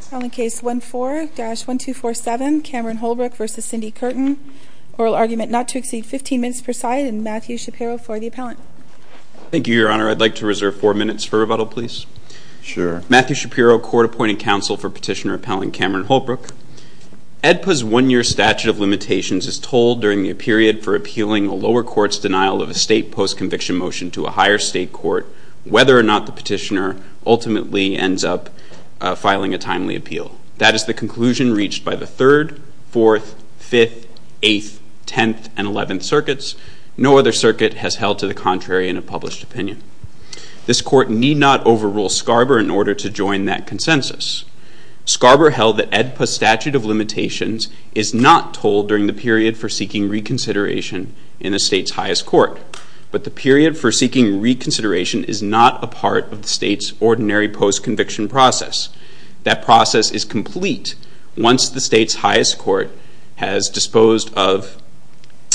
File in case 14-1247, Cameron Holbrook v. Cindi Curtin. Oral argument not to exceed 15 minutes per side, and Matthew Shapiro for the appellant. Thank you, Your Honor. I'd like to reserve four minutes for rebuttal, please. Sure. Matthew Shapiro, Court Appointed Counsel for Petitioner Appellant Cameron Holbrook. AEDPA's one-year statute of limitations is told during the period for appealing a lower court's denial of a state post-conviction motion to a higher state court whether or not the petitioner ultimately ends up filing a timely appeal. That is the conclusion reached by the 3rd, 4th, 5th, 8th, 10th, and 11th circuits. No other circuit has held to the contrary in a published opinion. This court need not overrule SCARBOR in order to join that consensus. SCARBOR held that AEDPA's statute of limitations is not told during the period for seeking reconsideration in a state's highest court, but the period for seeking reconsideration is not a part of the state's ordinary post-conviction process. That process is complete once the state's highest court has disposed of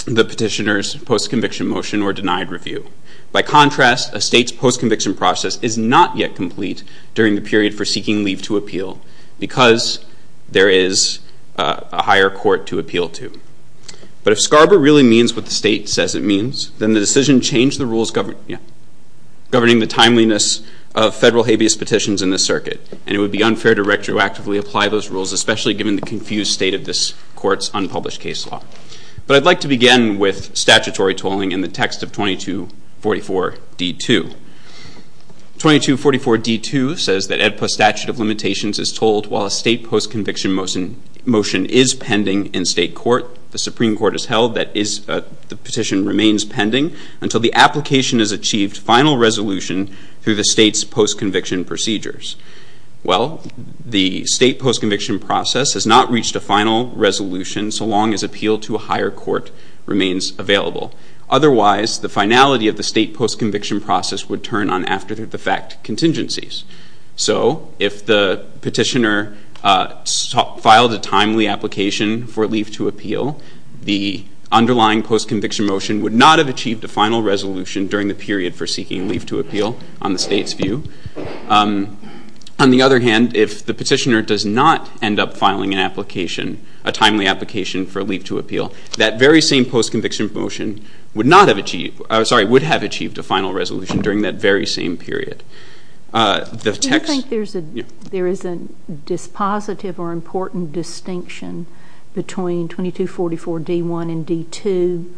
the petitioner's post-conviction motion or denied review. By contrast, a state's post-conviction process is not yet complete during the period for seeking leave to appeal because there is a higher court to appeal to. But if SCARBOR really means what the state says it means, then the decision changed the rules governing the timeliness of federal habeas petitions in this circuit, and it would be unfair to retroactively apply those rules, especially given the confused state of this court's unpublished case law. But I'd like to begin with statutory tolling in the text of 2244d2. 2244d2 says that AEDPA's statute of limitations is told while a state post-conviction motion is pending in state court. The Supreme Court has held that the petition remains pending until the application has achieved final resolution through the state's post-conviction procedures. Well, the state post-conviction process has not reached a final resolution so long as appeal to a higher court remains available. Otherwise, the finality of the state post-conviction process would turn on after-the-fact contingencies. So if the petitioner filed a timely application for leave to appeal, the underlying post-conviction motion would not have achieved a final resolution during the period for seeking leave to appeal on the state's view. On the other hand, if the petitioner does not end up filing an application, a timely application for leave to appeal, that very same post-conviction motion would have achieved a final resolution during that very same period. Do you think there is a dispositive or important distinction between 2244d1 and d2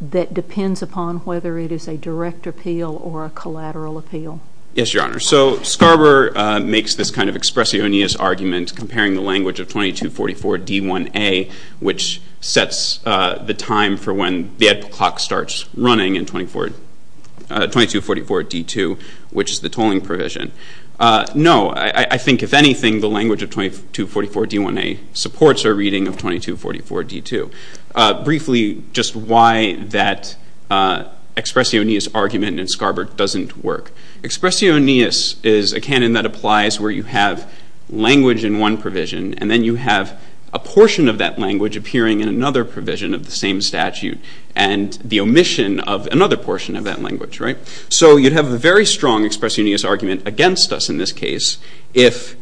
that depends upon whether it is a direct appeal or a collateral appeal? Yes, Your Honor. So Scarborough makes this kind of expressionist argument comparing the language of 2244d1a, which sets the time for when the ad hoc starts running in 2244d2, which is the tolling provision. No, I think, if anything, the language of 2244d1a supports our reading of 2244d2. Briefly, just why that expressionist argument in Scarborough doesn't work. Expressionist is a canon that applies where you have language in one provision and then you have a portion of that language appearing in another provision of the same statute and the omission of another portion of that language, right? So you'd have a very strong expressionist argument against us in this case if,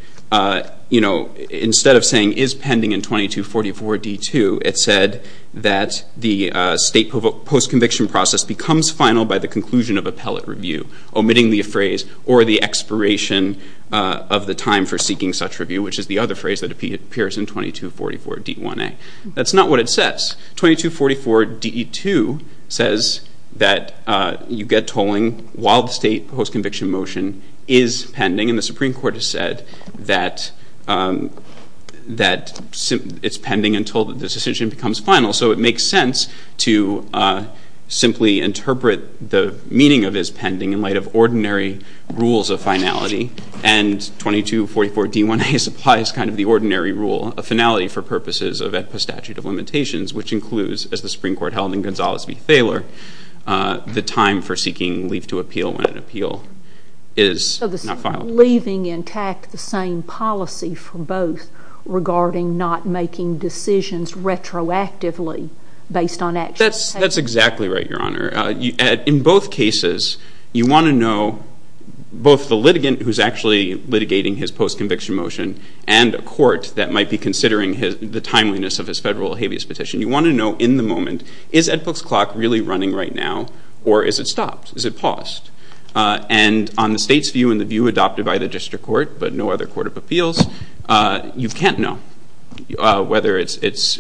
you know, instead of saying is pending in 2244d2, it said that the state post-conviction process becomes final by the conclusion of appellate review, omitting the phrase or the expiration of the time for seeking such review, which is the other phrase that appears in 2244d1a. That's not what it says. 2244d2 says that you get tolling while the state post-conviction motion is pending, and the Supreme Court has said that it's pending until the decision becomes final. So it makes sense to simply interpret the meaning of is pending in light of ordinary rules of finality, and 2244d1a supplies kind of the ordinary rule of finality for purposes of a statute of limitations, which includes, as the Supreme Court held in Gonzales v. Thaler, the time for seeking leave to appeal when an appeal is not filed. Are you leaving intact the same policy for both regarding not making decisions retroactively based on actual cases? That's exactly right, Your Honor. In both cases, you want to know both the litigant who's actually litigating his post-conviction motion and a court that might be considering the timeliness of his federal habeas petition. You want to know in the moment is Ed Book's clock really running right now, or is it stopped? Is it paused? And on the state's view and the view adopted by the district court, but no other court of appeals, you can't know whether it's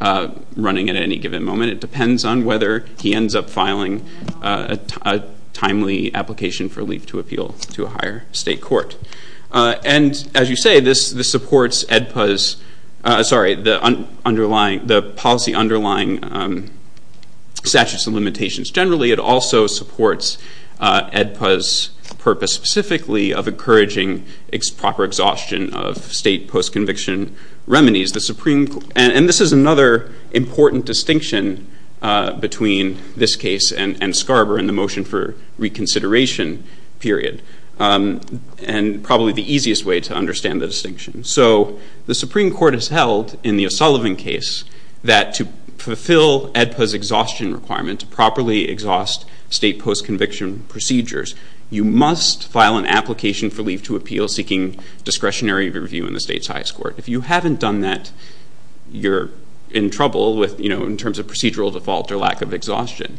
running at any given moment. It depends on whether he ends up filing a timely application for leave to appeal to a higher state court. And as you say, this supports EDPA's policy underlying statutes of limitations. Generally, it also supports EDPA's purpose specifically of encouraging proper exhaustion of state post-conviction remedies. And this is another important distinction between this case and Scarborough and the motion for reconsideration period. And probably the easiest way to understand the distinction. So the Supreme Court has held in the O'Sullivan case that to fulfill EDPA's exhaustion requirement to properly exhaust state post-conviction procedures, you must file an application for leave to appeal seeking discretionary review in the state's highest court. If you haven't done that, you're in trouble in terms of procedural default or lack of exhaustion.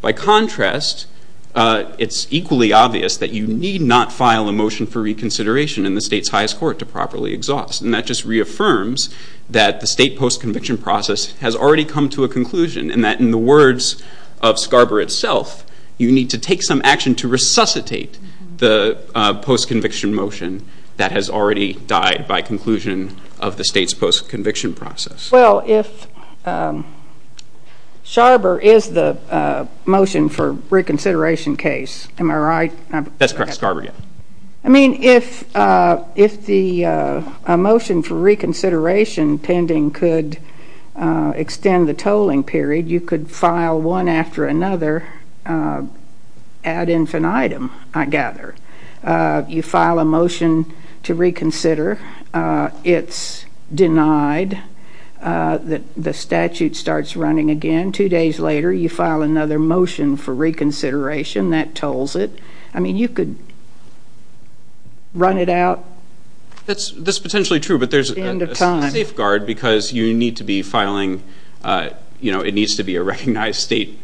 By contrast, it's equally obvious that you need not file a motion for reconsideration in the state's highest court to properly exhaust. And that just reaffirms that the state post-conviction process has already come to a conclusion and that in the words of Scarborough itself, you need to take some action to resuscitate the post-conviction motion that has already died by conclusion of the state's post-conviction process. Well, if Scarborough is the motion for reconsideration case, am I right? That's correct. Scarborough, yes. I mean, if the motion for reconsideration pending could extend the tolling period, you could file one after another ad infinitum, I gather. You file a motion to reconsider. It's denied. The statute starts running again. Two days later, you file another motion for reconsideration. That tolls it. I mean, you could run it out. That's potentially true, but there's a safeguard because you need to be filing, you know, it needs to be a recognized state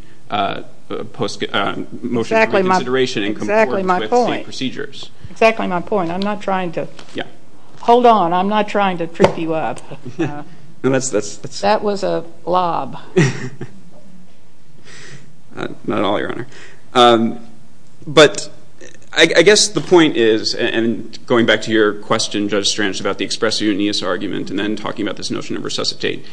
motion for reconsideration and come to work with state procedures. Exactly my point. Exactly my point. I'm not trying to. Hold on. I'm not trying to trip you up. That was a lob. Not at all, Your Honor. But I guess the point is, and going back to your question, Judge Strange, about the expressiveness argument and then talking about this notion of resuscitate,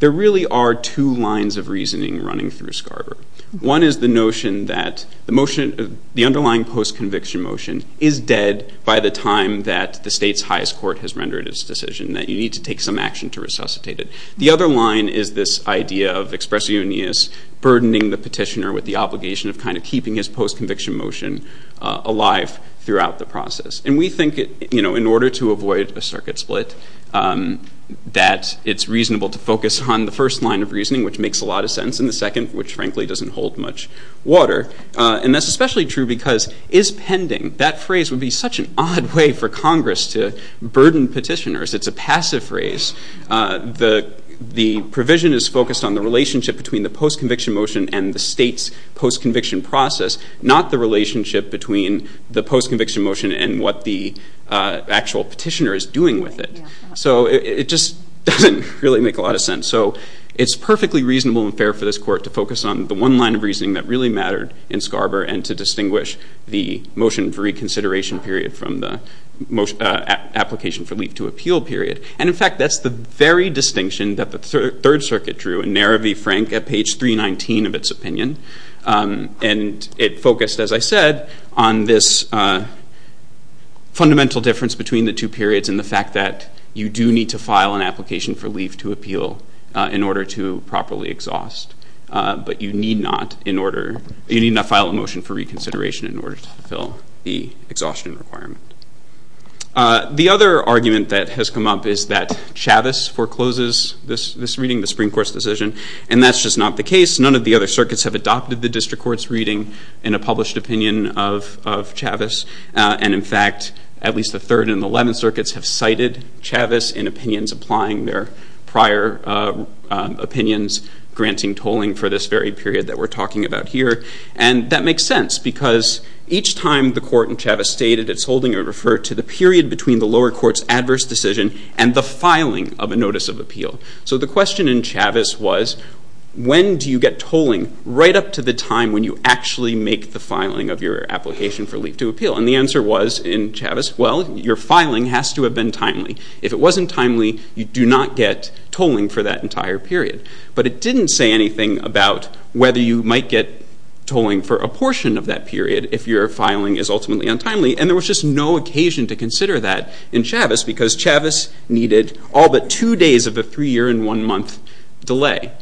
there really are two lines of reasoning running through Scarborough. One is the notion that the motion, the underlying post-conviction motion, is dead by the time that the state's highest court has rendered its decision, that you need to take some action to resuscitate it. The other line is this idea of expressiveness burdening the petitioner with the obligation of kind of keeping his post-conviction motion alive throughout the process. And we think, you know, in order to avoid a circuit split, that it's reasonable to focus on the first line of reasoning, which makes a lot of sense, and the second, which frankly doesn't hold much water. And that's especially true because is pending, that phrase would be such an odd way for Congress to burden petitioners. It's a passive phrase. The provision is focused on the relationship between the post-conviction motion and the state's post-conviction process, not the relationship between the post-conviction motion and what the actual petitioner is doing with it. So it just doesn't really make a lot of sense. So it's perfectly reasonable and fair for this court to focus on the one line of reasoning that really mattered in Scarborough and to distinguish the motion for reconsideration period from the application for leave to appeal period. And in fact, that's the very distinction that the Third Circuit drew in Nera V. Frank at page 319 of its opinion. And it focused, as I said, on this fundamental difference between the two periods and the fact that you do need to file an application for leave to appeal in order to properly exhaust, but you need not file a motion for reconsideration in order to fulfill the exhaustion requirement. The other argument that has come up is that Chavez forecloses this reading, the Supreme Court's decision, and that's just not the case. None of the other circuits have adopted the district court's reading in a published opinion of Chavez. And in fact, at least the Third and the Eleventh Circuits have cited Chavez in opinions applying their prior opinions, granting tolling for this very period that we're talking about here. And that makes sense because each time the court in Chavez stated its holding, it referred to the period between the lower court's adverse decision and the filing of a notice of appeal. So the question in Chavez was, when do you get tolling right up to the time when you actually make the filing of your application for leave to appeal? And the answer was in Chavez, well, your filing has to have been timely. If it wasn't timely, you do not get tolling for that entire period. But it didn't say anything about whether you might get tolling for a portion of that period if your filing is ultimately untimely. And there was just no occasion to consider that in Chavez because Chavez needed all but two days of a three-year and one-month delay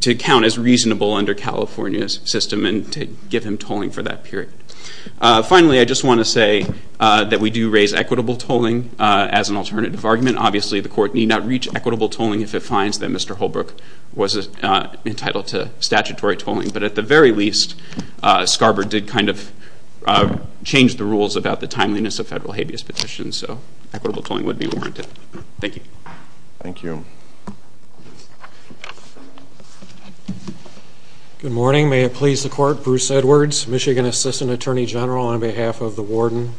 to count as reasonable under California's system and to give him tolling for that period. Finally, I just want to say that we do raise equitable tolling as an alternative argument. Obviously, the court need not reach equitable tolling if it finds that Mr. Holbrook was entitled to statutory tolling. But at the very least, Scarborough did kind of change the rules about the timeliness of federal habeas petitions. So equitable tolling would be warranted. Thank you. Thank you. Good morning. May it please the Court. Bruce Edwards, Michigan Assistant Attorney General on behalf of the warden.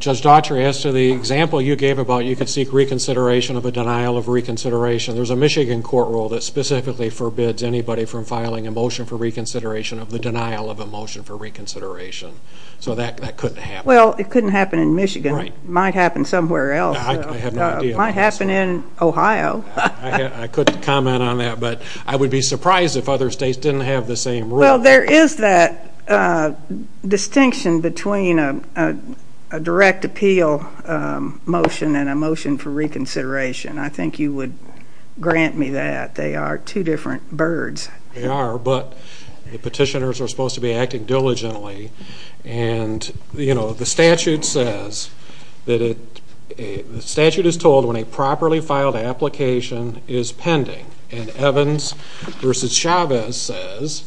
Judge Daughtry, as to the example you gave about you could seek reconsideration of a denial of reconsideration, there's a Michigan court rule that specifically forbids anybody from filing a motion for reconsideration of the denial of a motion for reconsideration. So that couldn't happen. Well, it couldn't happen in Michigan. It might happen somewhere else. I have no idea. It might happen in Ohio. I couldn't comment on that, but I would be surprised if other states didn't have the same rule. Well, there is that distinction between a direct appeal motion and a motion for reconsideration. I think you would grant me that. They are two different birds. They are, but the petitioners are supposed to be acting diligently. And, you know, the statute says that a statute is told when a properly filed application is pending. And Evans v. Chavez says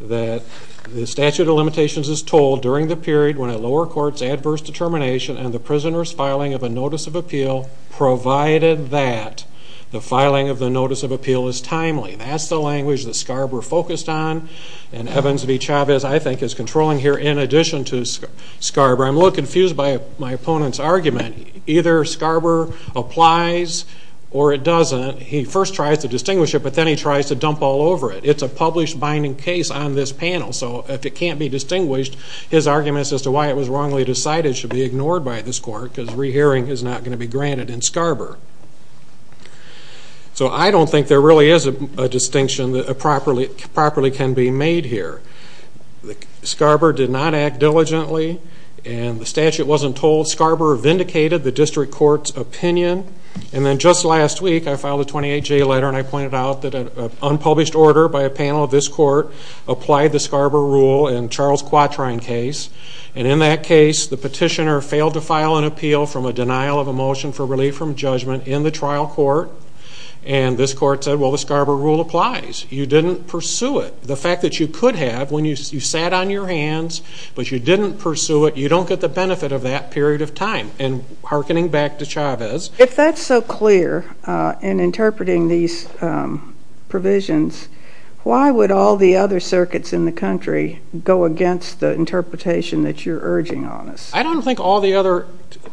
that the statute of limitations is told during the period when a lower court's adverse determination and the prisoner's filing of a notice of appeal, provided that the filing of the notice of appeal is timely. That's the language that SCARB were focused on. And Evans v. Chavez, I think, is controlling here in addition to SCARB. I'm a little confused by my opponent's argument. Either SCARB applies or it doesn't. He first tries to distinguish it, but then he tries to dump all over it. It's a published binding case on this panel. So if it can't be distinguished, his arguments as to why it was wrongly decided should be ignored by this court because rehearing is not going to be granted in SCARB. So I don't think there really is a distinction that properly can be made here. SCARB did not act diligently. And the statute wasn't told. SCARB vindicated the district court's opinion. And then just last week I filed a 28-J letter and I pointed out that an unpublished order by a panel of this court And in that case, the petitioner failed to file an appeal from a denial of a motion for relief from judgment in the trial court. And this court said, well, the SCARB rule applies. You didn't pursue it. The fact that you could have when you sat on your hands, but you didn't pursue it, you don't get the benefit of that period of time. And hearkening back to Chavez. If that's so clear in interpreting these provisions, why would all the other circuits in the country go against the interpretation that you're urging on us? I don't think all the other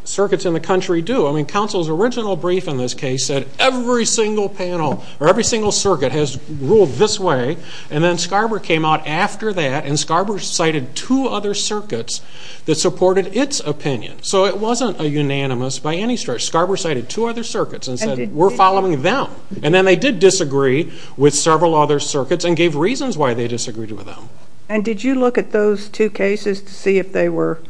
circuits in the country do. I mean, counsel's original brief in this case said every single panel or every single circuit has ruled this way. And then SCARB came out after that and SCARB cited two other circuits that supported its opinion. So it wasn't a unanimous by any stretch. SCARB cited two other circuits and said we're following them. And then they did disagree with several other circuits and gave reasons why they disagreed with them. And did you look at those two cases to see if they were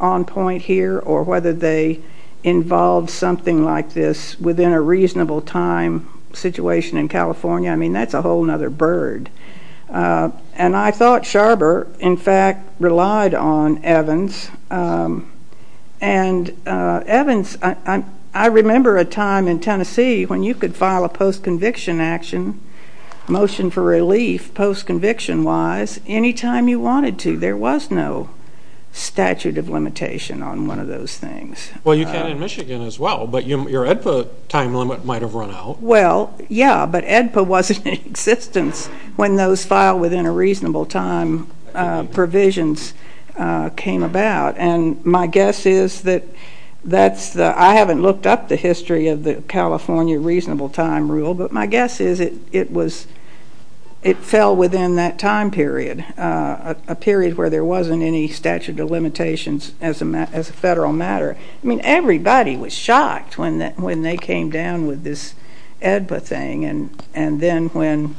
on point here or whether they involved something like this within a reasonable time situation in California? I mean, that's a whole other bird. And I thought Sharber, in fact, relied on Evans. And Evans, I remember a time in Tennessee when you could file a post-conviction action, motion for relief, post-conviction-wise, any time you wanted to. There was no statute of limitation on one of those things. Well, you can in Michigan as well, but your EDPA time limit might have run out. Well, yeah, but EDPA wasn't in existence when those file within a reasonable time provisions came about. And my guess is that that's the ‑‑ I haven't looked up the history of the California reasonable time rule, but my guess is it was ‑‑ it fell within that time period, a period where there wasn't any statute of limitations as a federal matter. I mean, everybody was shocked when they came down with this EDPA thing. And then when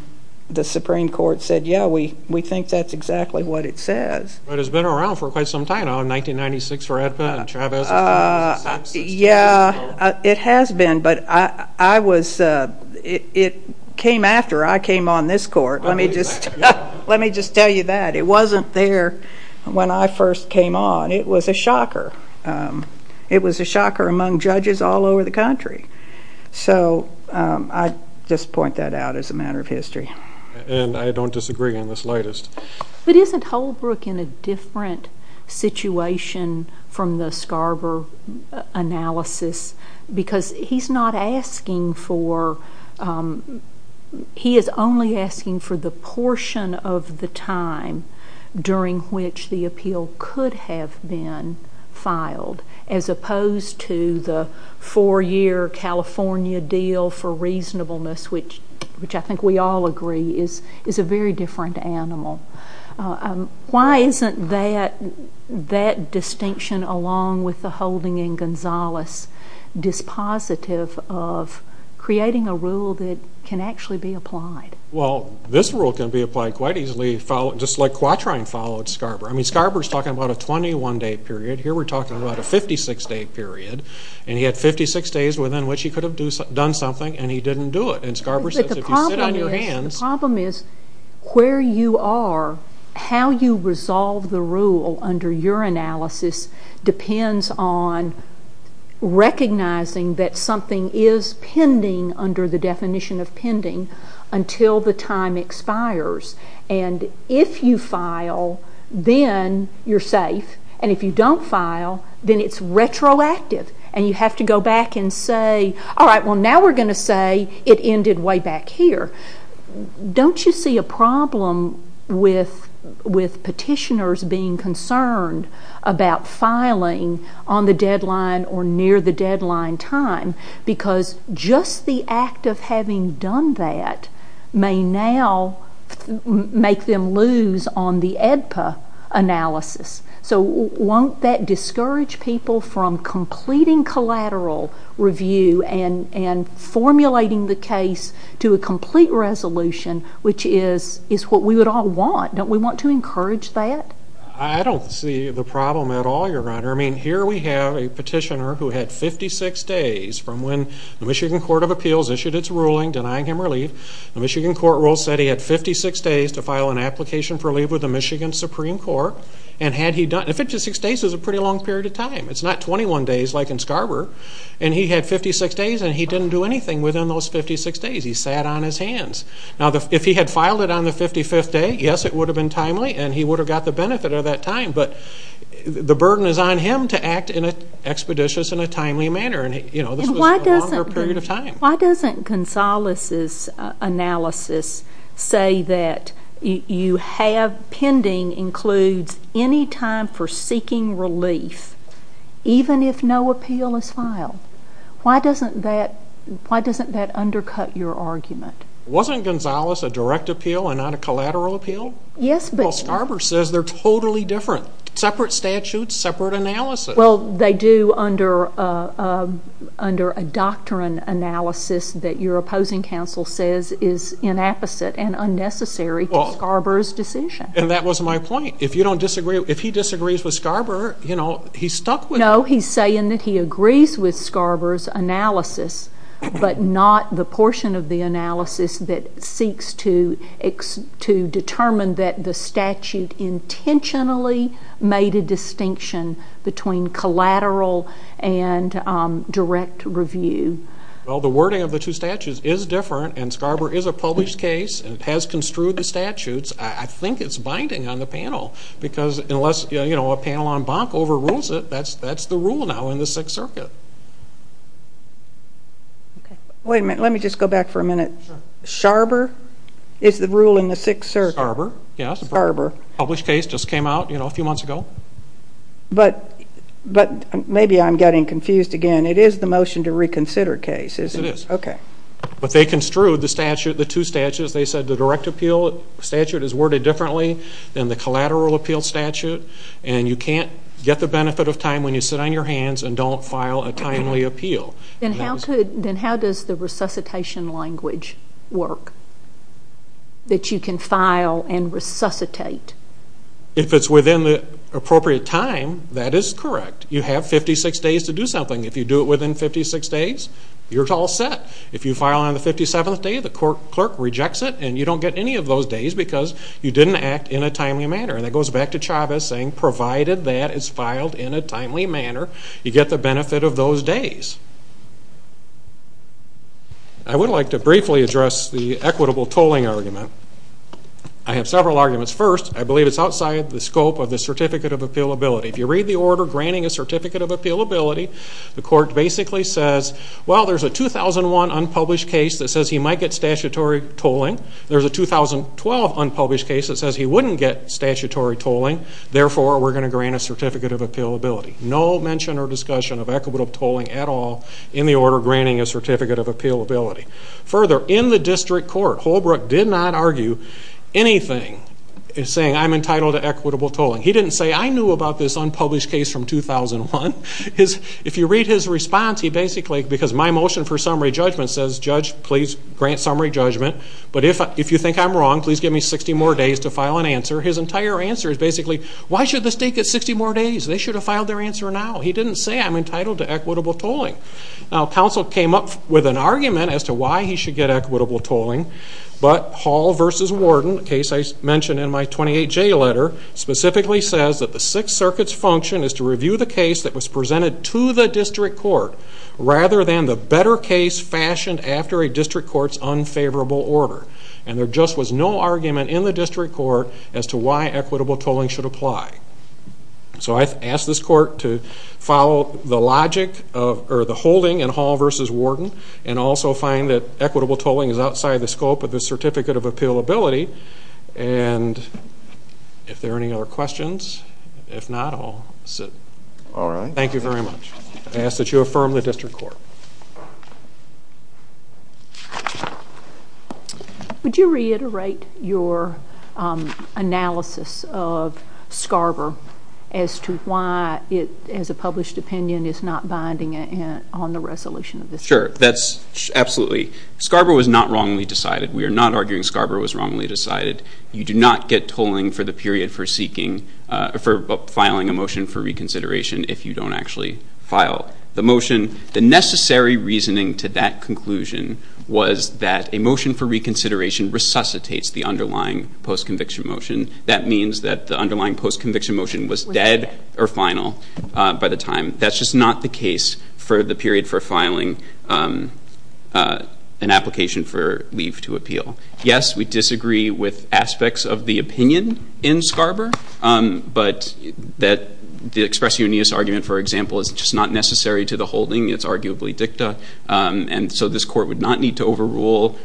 the Supreme Court said, yeah, we think that's exactly what it says. But it's been around for quite some time now, 1996 for EDPA and Chavez. Yeah, it has been, but I was ‑‑ it came after I came on this court. Let me just tell you that. It wasn't there when I first came on. It was a shocker. It was a shocker among judges all over the country. So I just point that out as a matter of history. And I don't disagree on this latest. But isn't Holbrook in a different situation from the Scarborough analysis? Because he's not asking for ‑‑ he is only asking for the portion of the time during which the appeal could have been filed, as opposed to the four‑year California deal for reasonableness, which I think we all agree is a very different animal. Why isn't that distinction, along with the holding in Gonzales, dispositive of creating a rule that can actually be applied? Well, this rule can be applied quite easily, just like Quatrain followed Scarborough. I mean, Scarborough is talking about a 21‑day period. Here we're talking about a 56‑day period. And he had 56 days within which he could have done something, and he didn't do it. The problem is where you are, how you resolve the rule under your analysis depends on recognizing that something is pending under the definition of pending until the time expires. And if you file, then you're safe. And if you don't file, then it's retroactive. And you have to go back and say, all right, well, now we're going to say it ended way back here. Don't you see a problem with petitioners being concerned about filing on the deadline or near the deadline time? Because just the act of having done that may now make them lose on the AEDPA analysis. So won't that discourage people from completing collateral review and formulating the case to a complete resolution, which is what we would all want? Don't we want to encourage that? I don't see the problem at all, Your Honor. I mean, here we have a petitioner who had 56 days from when the Michigan Court of Appeals issued its ruling denying him relief. The Michigan court rule said he had 56 days to file an application for relief with the Michigan Supreme Court. And 56 days is a pretty long period of time. It's not 21 days like in Scarborough. And he had 56 days, and he didn't do anything within those 56 days. He sat on his hands. Now, if he had filed it on the 55th day, yes, it would have been timely, and he would have got the benefit of that time. But the burden is on him to act expeditious in a timely manner. This was a longer period of time. Why doesn't Gonzales' analysis say that you have pending includes any time for seeking relief even if no appeal is filed? Why doesn't that undercut your argument? Wasn't Gonzales a direct appeal and not a collateral appeal? Well, Scarborough says they're totally different. Separate statutes, separate analysis. Well, they do under a doctrine analysis that your opposing counsel says is inapposite and unnecessary to Scarborough's decision. And that was my point. If he disagrees with Scarborough, you know, he's stuck with it. No, he's saying that he agrees with Scarborough's analysis but not the portion of the analysis that seeks to determine that the statute intentionally made a distinction between collateral and direct review. Well, the wording of the two statutes is different, and Scarborough is a published case and has construed the statutes. I think it's binding on the panel because unless, you know, a panel on Bonk overrules it, that's the rule now in the Sixth Circuit. Okay. Wait a minute. Let me just go back for a minute. Sure. Scarborough is the rule in the Sixth Circuit? Scarborough, yes. Published case just came out, you know, a few months ago. But maybe I'm getting confused again. It is the motion to reconsider case, isn't it? Yes, it is. Okay. But they construed the statute, the two statutes. They said the direct appeal statute is worded differently than the collateral appeal statute, and you can't get the benefit of time when you sit on your hands and don't file a timely appeal. Then how does the resuscitation language work that you can file and resuscitate? If it's within the appropriate time, that is correct. You have 56 days to do something. If you do it within 56 days, you're all set. If you file on the 57th day, the clerk rejects it, and you don't get any of those days because you didn't act in a timely manner. And that goes back to Chavez saying provided that it's filed in a timely manner, you get the benefit of those days. I would like to briefly address the equitable tolling argument. I have several arguments. First, I believe it's outside the scope of the certificate of appealability. If you read the order granting a certificate of appealability, the court basically says, well, there's a 2001 unpublished case that says he might get statutory tolling. There's a 2012 unpublished case that says he wouldn't get statutory tolling. Therefore, we're going to grant a certificate of appealability. No mention or discussion of equitable tolling at all in the order granting a certificate of appealability. Further, in the district court, Holbrook did not argue anything saying I'm entitled to equitable tolling. He didn't say I knew about this unpublished case from 2001. If you read his response, he basically, because my motion for summary judgment says, Judge, please grant summary judgment, but if you think I'm wrong, please give me 60 more days to file an answer. His entire answer is basically, why should the state get 60 more days? They should have filed their answer now. He didn't say I'm entitled to equitable tolling. Now, counsel came up with an argument as to why he should get equitable tolling, but Hall v. Warden, a case I mentioned in my 28J letter, specifically says that the Sixth Circuit's function is to review the case that was presented to the district court rather than the better case fashioned after a district court's unfavorable order. And there just was no argument in the district court as to why equitable tolling should apply. So I ask this court to follow the logic or the holding in Hall v. Warden and also find that equitable tolling is outside the scope of the certificate of appealability. And if there are any other questions, if not, I'll sit. All right. Thank you very much. I ask that you affirm the district court. Thank you. Would you reiterate your analysis of Scarborough as to why it, as a published opinion, is not binding on the resolution of the statute? Sure. That's absolutely. Scarborough was not wrongly decided. We are not arguing Scarborough was wrongly decided. You do not get tolling for the period for seeking or for filing a motion for reconsideration if you don't actually file the motion. The necessary reasoning to that conclusion was that a motion for reconsideration resuscitates the underlying postconviction motion. That means that the underlying postconviction motion was dead or final by the time. That's just not the case for the period for filing an application for leave to appeal. Yes, we disagree with aspects of the opinion in Scarborough, but that the expression in this argument, for example, is just not necessary to the holding. It's arguably dicta. And so this court would not need to overrule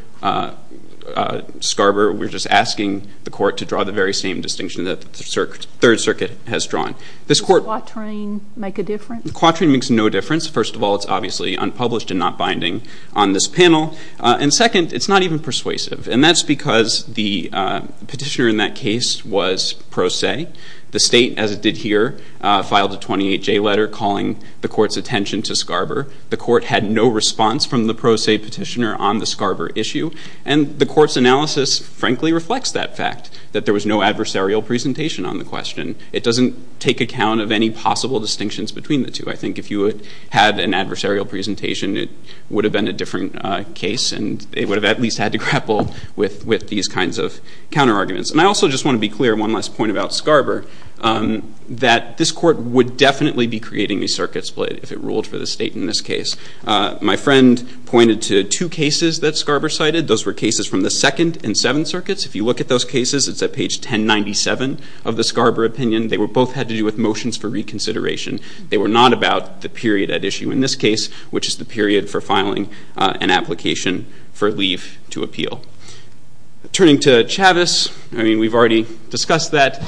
Scarborough. We're just asking the court to draw the very same distinction that the Third Circuit has drawn. Does the quatrain make a difference? The quatrain makes no difference. First of all, it's obviously unpublished and not binding on this panel. And second, it's not even persuasive. And that's because the petitioner in that case was pro se. The state, as it did here, filed a 28-J letter calling the court's attention to Scarborough. The court had no response from the pro se petitioner on the Scarborough issue. And the court's analysis, frankly, reflects that fact, that there was no adversarial presentation on the question. It doesn't take account of any possible distinctions between the two. I think if you had an adversarial presentation, it would have been a different case, and it would have at least had to grapple with these kinds of counterarguments. And I also just want to be clear, one last point about Scarborough, that this court would definitely be creating a circuit split if it ruled for the state in this case. My friend pointed to two cases that Scarborough cited. Those were cases from the Second and Seventh Circuits. If you look at those cases, it's at page 1097 of the Scarborough opinion. They both had to do with motions for reconsideration. They were not about the period at issue in this case, which is the period for filing an application for leave to appeal. Turning to Chavez, I mean, we've already discussed that.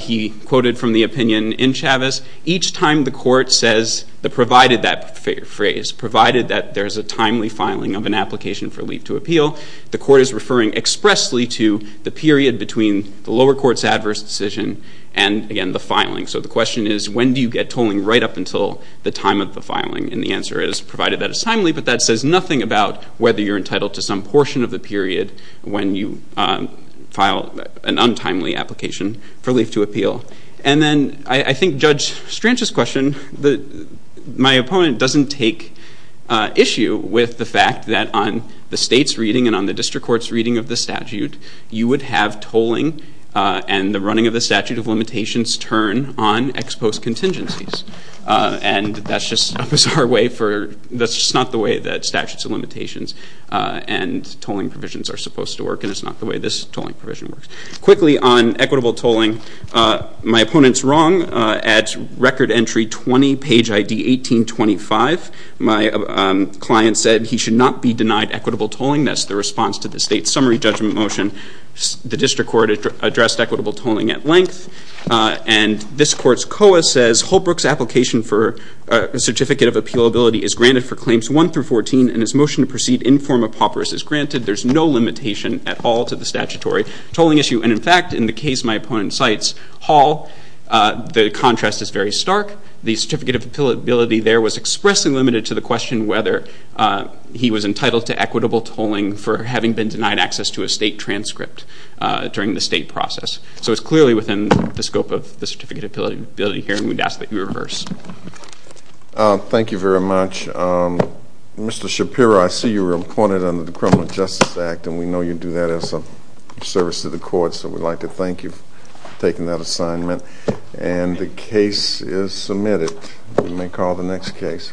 He quoted from the opinion in Chavez, each time the court says the provided that phrase, provided that there is a timely filing of an application for leave to appeal, the court is referring expressly to the period between the lower court's adverse decision and, again, the filing. So the question is, when do you get tolling right up until the time of the filing? And the answer is, provided that it's timely. But that says nothing about whether you're entitled to some portion of the period when you file an untimely application for leave to appeal. And then I think Judge Stranch's question, my opponent doesn't take issue with the fact that on the state's reading and on the district court's reading of the statute, you would have tolling and the running of the statute of limitations turn on ex post contingencies. And that's just a bizarre way for, that's just not the way that statutes of limitations and tolling provisions are supposed to work, and it's not the way this tolling provision works. Quickly, on equitable tolling, my opponent's wrong. At record entry 20, page ID 1825, my client said he should not be denied equitable tolling. That's the response to the state's summary judgment motion. The district court addressed equitable tolling at length, and this court's COA says, Holbrook's application for a certificate of appealability is granted for claims 1 through 14, and his motion to proceed in form of paupers is granted. There's no limitation at all to the statutory tolling issue. And, in fact, in the case my opponent cites, Hall, the contrast is very stark. The certificate of appealability there was expressly limited to the question whether he was entitled to equitable tolling for having been denied access to a state transcript during the state process. So it's clearly within the scope of the certificate of appealability here, and we'd ask that you reverse. Thank you very much. Mr. Shapiro, I see you were appointed under the Criminal Justice Act, and we know you do that as a service to the court, so we'd like to thank you for taking that assignment. And the case is submitted. We may call the next case.